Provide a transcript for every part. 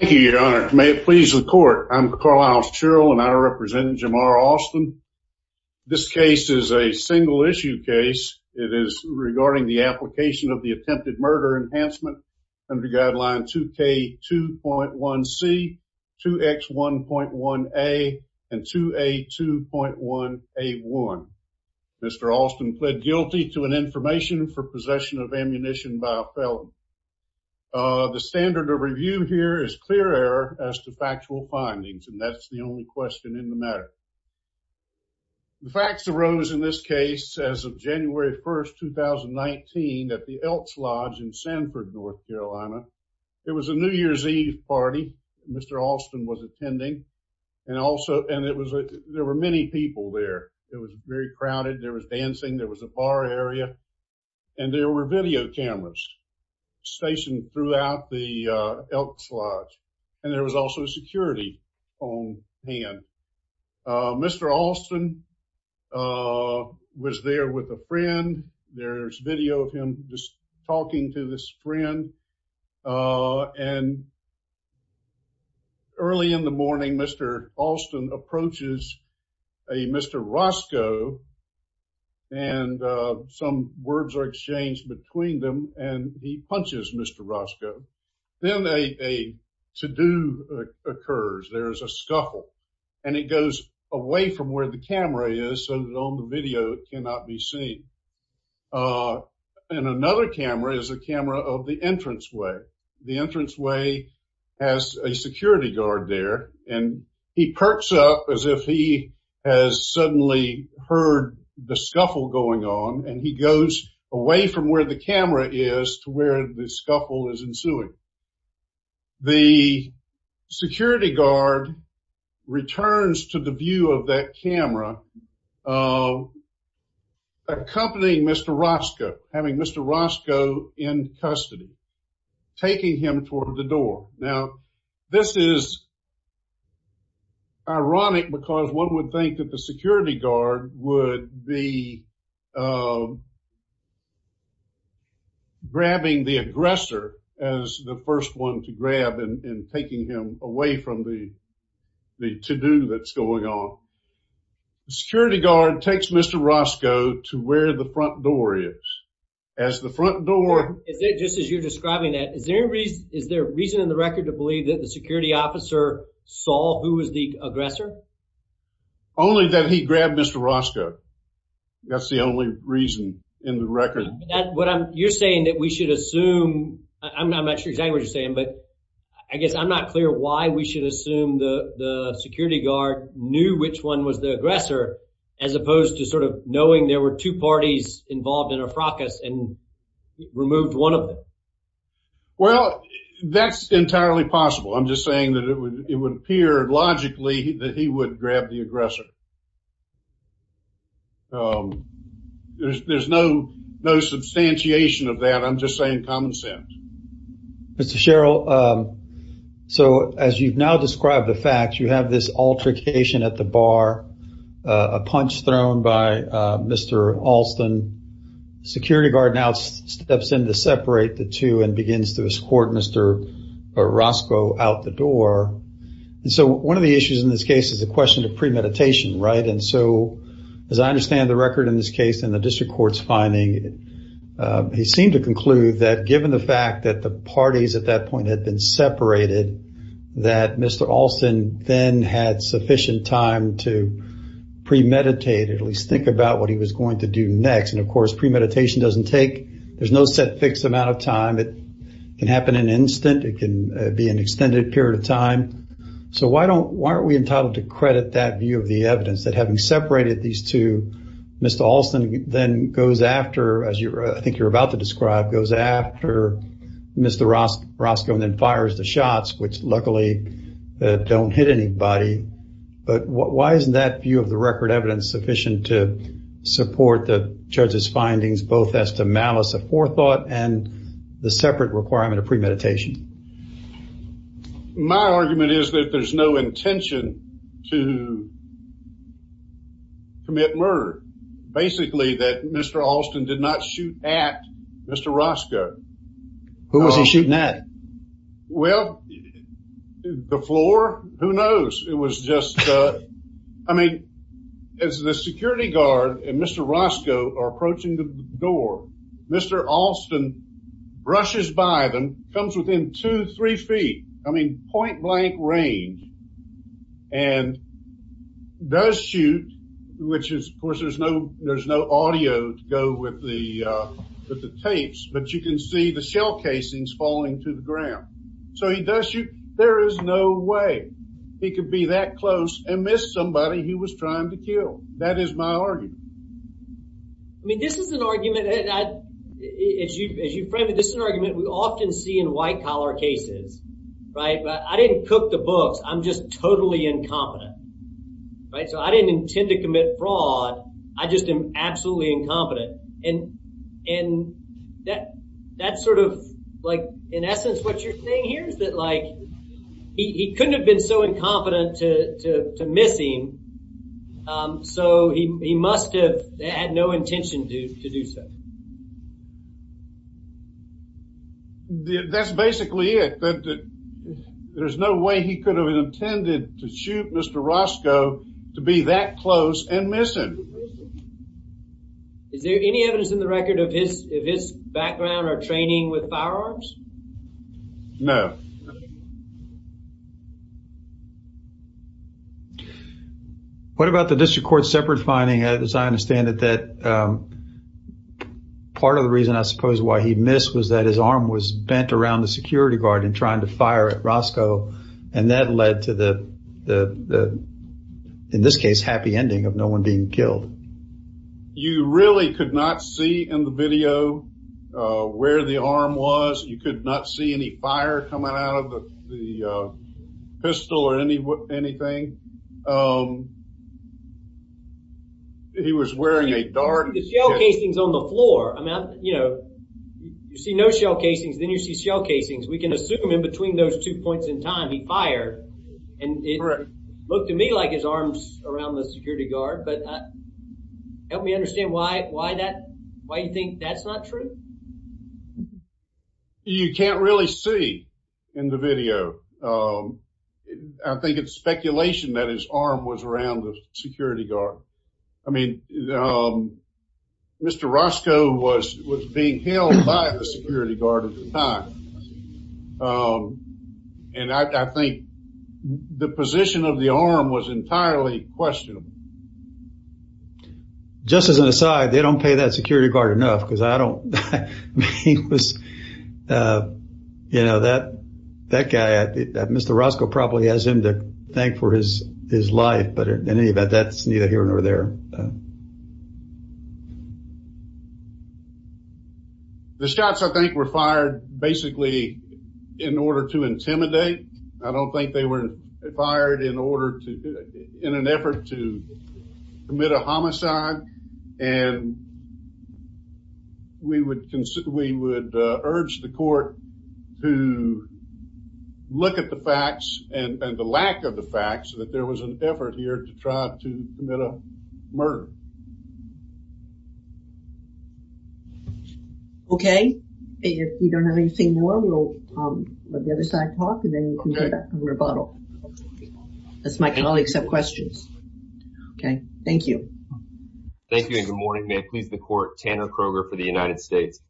Thank you, your honor. May it please the court. I'm Carl Isles Cheryl, and I represent Jamar Alston. This case is a single issue case. It is regarding the application of the attempted murder enhancement under guideline 2K2.1C, 2X1.1A, and 2A2.1A1. Mr. Alston pled guilty to an information for possession of ammunition by a felon. The standard of review here is clear error as to factual findings, and that's the only question in the matter. The facts arose in this case as of January 1st, 2019, at the Elks Lodge in Sanford, North Carolina. It was a New Year's Eve party. Mr. Alston was attending, and there were many people there. It was very crowded. There was dancing. There was a bar area, and there were video cameras. Stationed throughout the Elks Lodge, and there was also security on hand. Mr. Alston was there with a friend. There's video of him just talking to this friend, and early in the morning, Mr. Alston approaches a Mr. Roscoe, and some words are exchanged between them, and he punches Mr. Roscoe. Then a to-do occurs. There is a scuffle, and it goes away from where the camera is, so that on the video it cannot be seen. And another camera is a camera of the entranceway. The entranceway has a security guard there, and he perks up as if he has suddenly heard the scuffle going on, and he goes away from where the camera is to where the scuffle is ensuing. The security guard returns to the view of that camera, accompanying Mr. Roscoe, having Mr. Roscoe in custody, taking him toward the door. Now, this is ironic, because one would think that the security guard would be grabbing the aggressor as the first one to grab and taking him away from the to-do that's going on. The security guard takes Mr. Roscoe to where the front door is. As the front door... Who is the aggressor? Only that he grabbed Mr. Roscoe. That's the only reason in the record. You're saying that we should assume... I'm not sure exactly what you're saying, but I guess I'm not clear why we should assume the security guard knew which one was the aggressor, as opposed to sort of knowing there were two parties involved in a fracas and removed one of them. Well, that's entirely possible. I'm just saying that it would appear logically that he would grab the aggressor. There's no substantiation of that. I'm just saying common sense. Mr. Sherrill, so as you've now described the facts, you have this altercation at the bar, a punch thrown by Mr. Alston. Security guard now steps in to separate the two and begins to escort Mr. Roscoe out the door. And so one of the issues in this case is the question of premeditation, right? And so as I understand the record in this case and the district court's finding, he seemed to conclude that given the fact that the parties at that point had been separated, that Mr. Alston then had sufficient time to premeditate, at least think about what he was going to do next. And of course premeditation doesn't take, there's no set fixed amount of time. It can happen in an instant. It can be an extended period of time. So why don't, why aren't we entitled to credit that view of the evidence that having separated these two, Mr. Alston then goes after, as I think you're about to describe, goes after Mr. Roscoe and then fires the shots, which luckily don't hit anybody. But why isn't that view of the record evidence sufficient to support the judge's findings, both as to malice of forethought and the separate requirement of premeditation? My argument is that there's no intention to commit murder. Basically that Mr. Alston did not shoot at Mr. Roscoe. Who was he shooting at? Well, the floor, who knows? It was just, I mean, as the security guard and Mr. Roscoe are approaching the door, Mr. Alston brushes by them, comes within two, three feet, I mean point blank range, and does shoot, which is, of course, there's no, there's no audio to go with the tapes, but you can see the shell casings falling to the ground. So he does shoot. There is no way he could be that close and miss somebody he was trying to kill. That is my argument. I mean, this is an argument that as you frame it, this is an argument we often see in white collar cases, right? But I didn't cook the books. I'm just totally incompetent, right? So I didn't intend to commit fraud. I just am absolutely incompetent. And that's sort of like, in essence, what you're saying here is that, like, he couldn't have been so incompetent to miss him, so he must have had no intention to do so. That's basically it. There's no way he could have intended to shoot Mr. Roscoe to be that close and miss him. Is there any evidence in the record of his background or training with firearms? No. What about the district court separate finding, as I understand it, that part of the reason, I suppose, why he missed was that his arm was bent around the security guard in trying to fire at Roscoe, and that led to the, in this case, happy ending of no one being killed. You really could not see in the video where the arm was. You could not see any fire coming out of the pistol or anything. He was wearing a dart. The shell casings on the floor. I mean, you know, you see no shell casings, then you see shell casings. We can assume in between those two points in time, he fired, and it looked to me like his arms around the security guard, but help me understand why you think that's not true? You can't really see in the video. I think it's speculation that his arm was around the security guard. I mean, Mr. Roscoe was being held by the security guard at the time, and I think the position of the arm was entirely questionable. Just as an aside, they don't pay that security guard enough because I don't, I mean, he was, you know, that guy, Mr. Roscoe probably has him to thank for his life, but in any event, that's neither here nor there. The shots, I think, were fired basically in order to intimidate. I don't think they were fired in an effort to commit a homicide, and we would urge the court to look at the facts and the lack of the facts, that there was an effort here to try to commit a murder. Okay. If we don't have anything more, we'll let the other side talk, and then we can go back to rebuttal. As my colleagues have questions. Okay. Thank you. Thank you, and good morning. May it please the court, Tanner Kroger for the United States.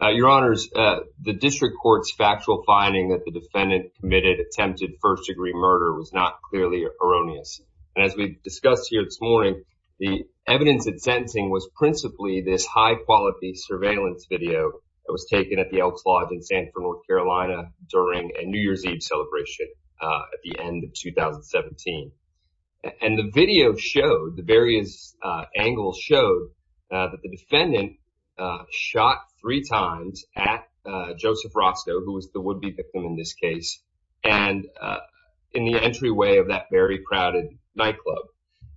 Your honors, the district court's factual finding that the defendant committed attempted first degree murder was not clearly erroneous. And as we discussed here this morning, the evidence in sentencing was principally this high quality surveillance video that was taken at the Elks Lodge in Sanford, North Carolina during a New Year's Eve celebration at the end of 2017. And the video showed, the various angles showed, that the defendant shot three times at Joseph Roscoe, who was the would-be victim in this case, and in the entryway of that very crowded nightclub.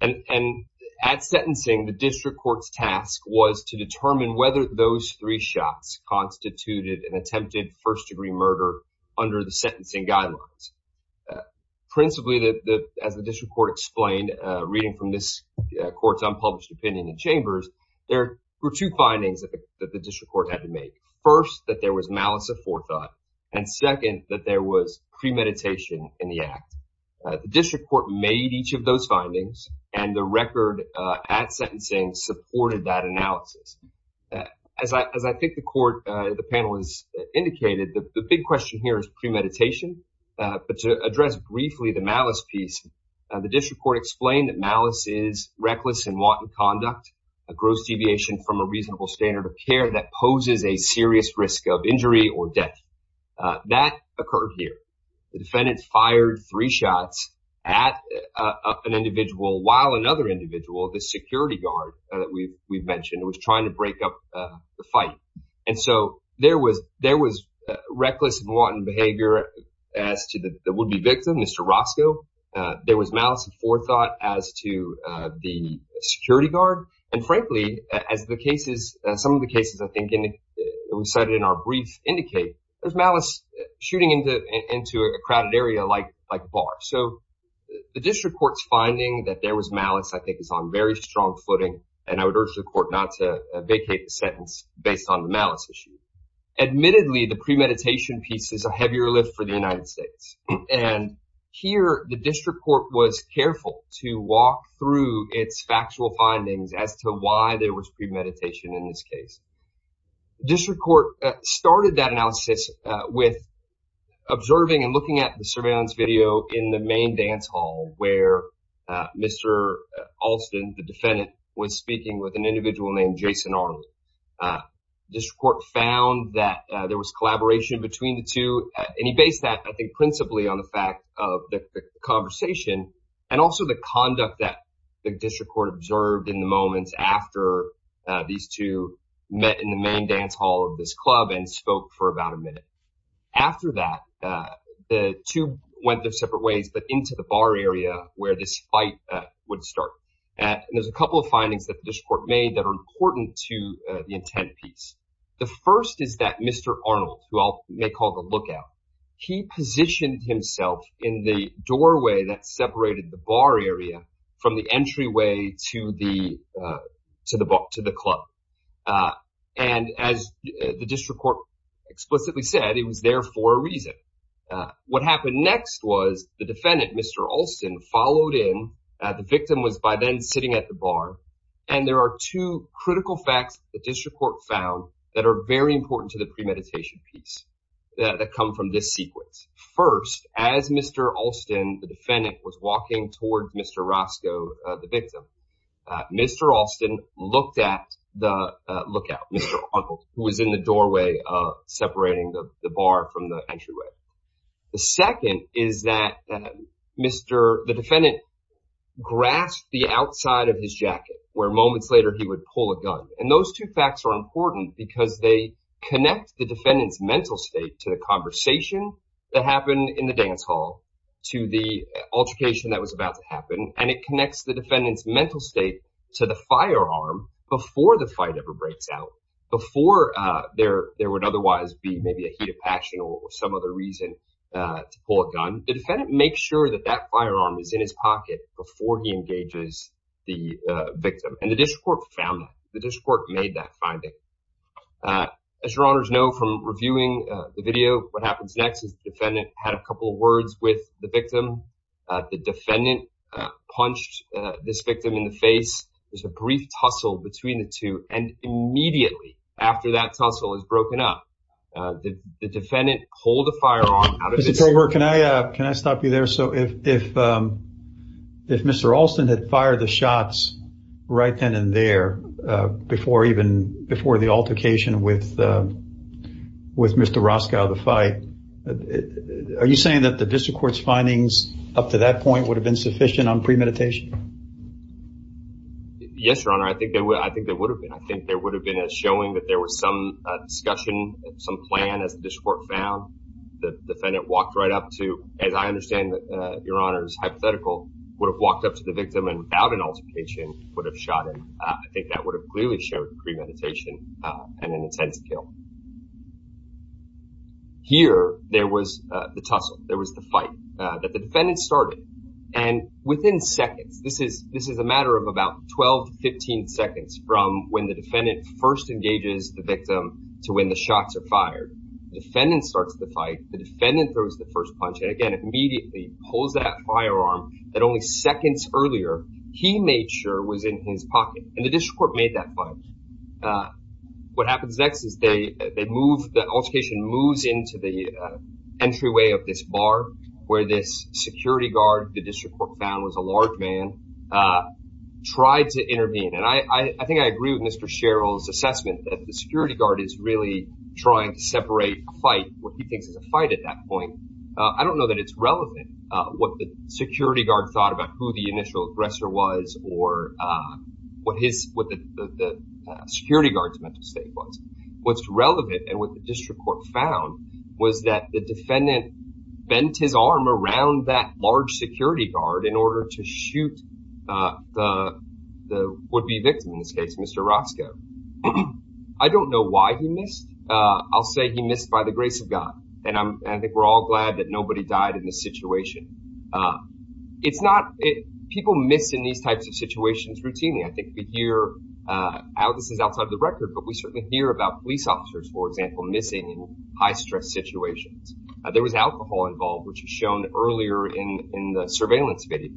And at sentencing, the district court's task was to determine whether those three shots constituted an attempted first degree murder under the sentencing guidelines. Principally, as the district court explained, reading from this court's unpublished opinion in chambers, there were two findings that the district court had to make. First, that there was malice of forethought, and second, that there was premeditation in the act. The district court made each of those findings, and the record at sentencing supported that analysis. As I think the panel has indicated, the big question here is premeditation. But to address briefly the malice piece, the district court explained that malice is reckless and wanton conduct, a gross deviation from a reasonable standard of care that poses a serious risk of injury or death. That occurred here. The defendant fired three shots at an individual, while another individual, the security guard that we've mentioned, was trying to break up the fight. And so there was reckless and wanton behavior as to the would-be victim, Mr. Roscoe. There was malice of forethought as to the security guard. And frankly, as some of the cases I think we cited in our brief indicate, there's malice shooting into a crowded area like a bar. So the district court's finding that there was malice I think is on very strong footing, and I would urge the court not to vacate the sentence based on the malice issue. Admittedly, the premeditation piece is a heavier lift for the United States. And here the district court was careful to walk through its factual findings as to why there was premeditation in this case. District court started that analysis with observing and looking at the surveillance video in the main dance hall where Mr. Alston, the defendant, was speaking with an individual named Jason Arnold. District court found that there was collaboration between the two, and he based that I think principally on the fact of the conversation and also the conduct that the district court observed in the moments after these two met in the main dance hall of this club and spoke for about a minute. After that, the two went their separate ways, but into the bar area where this fight would start. And there's a couple of findings that the district court made that are important to the intent piece. The first is that Mr. Arnold, who I'll make call the lookout, he positioned himself in the doorway that separated the bar area from the entryway to the club. And as the district court explicitly said, he was there for a reason. What happened next was the defendant, Mr. Alston, followed in. The victim was by then sitting at the bar. And there are two critical facts the district court found that are very important to the premeditation piece that come from this sequence. First, as Mr. Alston, the defendant, was walking toward Mr. Roscoe, the victim, Mr. Alston looked at the lookout, Mr. Arnold, who was in the doorway separating the bar from the entryway. The second is that the defendant grasped the outside of his jacket, where moments later he would pull a gun. And those two facts are important because they connect the defendant's mental state to the conversation that happened in the dance hall to the altercation that was about to happen. And it connects the defendant's mental state to the firearm before the fight ever breaks out, before there would otherwise be maybe a heat of passion or some other reason to pull a gun. The defendant makes sure that that firearm is in his pocket before he engages the victim. And the district court found that. The district court made that finding. As your honors know from reviewing the video, what happens next is the defendant had a couple of words with the victim. The defendant punched this victim in the face. There's a brief tussle between the two. And immediately after that tussle is broken up, the defendant pulled a firearm out of his— Mr. Over, can I stop you there? So if Mr. Alston had fired the shots right then and there before the altercation with Mr. Roskow, the fight, are you saying that the district court's findings up to that point would have been sufficient on premeditation? Yes, your honor. I think there would have been. I think there would have been a showing that there was some discussion, some plan, as the district court found. The defendant walked right up to, as I understand, your honors, hypothetical, would have walked up to the victim and without an altercation would have shot him. I think that would have clearly showed premeditation and an intense kill. Here, there was the tussle. There was the fight that the defendant started. And within seconds, this is a matter of about 12 to 15 seconds from when the defendant first engages the victim to when the shots are fired, the defendant starts the fight. The defendant throws the first punch and, again, immediately pulls that firearm that only seconds earlier he made sure was in his pocket. And the district court made that fight. What happens next is they move—the altercation moves into the entryway of this bar where this security guard, the district court found was a large man, tried to intervene. And I think I agree with Mr. Sherrill's assessment that the security guard is really trying to separate a fight, what he thinks is a fight at that point. I don't know that it's relevant what the security guard thought about who the initial aggressor was or what the security guard's mental state was. What's relevant and what the district court found was that the defendant bent his arm around that large security guard in order to shoot the would-be victim in this case, Mr. Roscoe. I don't know why he missed. I'll say he missed by the grace of God. And I think we're all glad that nobody died in this situation. It's not—people miss in these types of situations routinely. I think we hear—this is outside of the record, but we certainly hear about police officers, for example, missing in high-stress situations. There was alcohol involved, which is shown earlier in the surveillance video.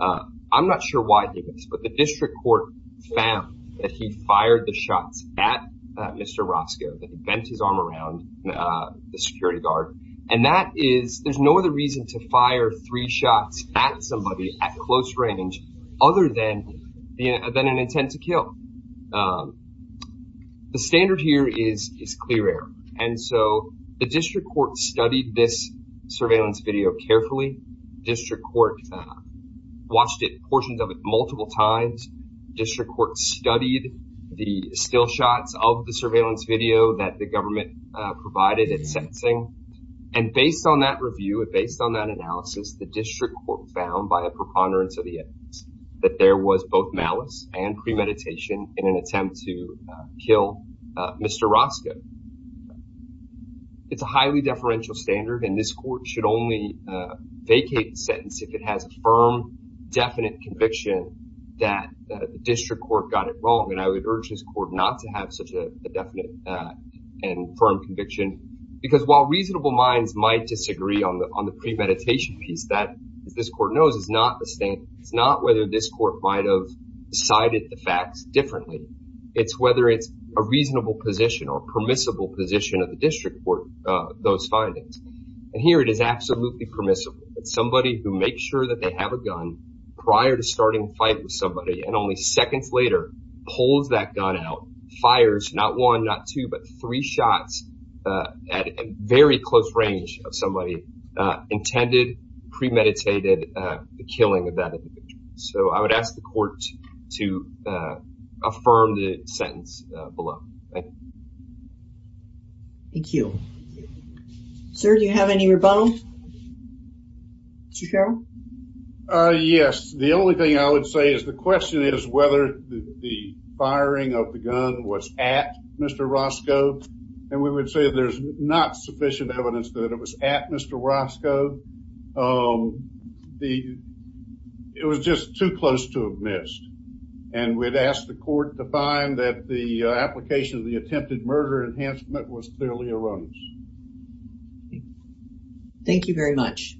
I'm not sure why he missed, but the district court found that he fired the shots at Mr. Roscoe, that he bent his arm around the security guard. And that is—there's no other reason to fire three shots at somebody at close range other than an intent to kill. The standard here is clear air. And so the district court studied this surveillance video carefully. District court watched portions of it multiple times. District court studied the still shots of the surveillance video that the government provided at sentencing. And based on that review and based on that analysis, the district court found by a preponderance of the evidence that there was both malice and premeditation in an attempt to kill Mr. Roscoe. It's a highly deferential standard. And this court should only vacate the sentence if it has a firm, definite conviction that the district court got it wrong. And I would urge this court not to have such a definite and firm conviction. Because while reasonable minds might disagree on the premeditation piece, that, as this court knows, is not whether this court might have decided the facts differently. It's whether it's a reasonable position or permissible position of the district court, those findings. And here it is absolutely permissible that somebody who makes sure that they have a gun prior to starting a fight with somebody and only seconds later pulls that gun out, fires not one, not two, but three shots at a very close range of somebody intended, premeditated the killing of that individual. So I would ask the court to affirm the sentence below. Thank you. Thank you. Sir, do you have any rebuttal? Mr. Carroll? Yes. The only thing I would say is the question is whether the firing of the gun was at Mr. Roscoe. And we would say there's not sufficient evidence that it was at Mr. Roscoe. It was just too close to have missed. And we'd ask the court to find that the application of the attempted murder enhancement was clearly erroneous. Thank you very much.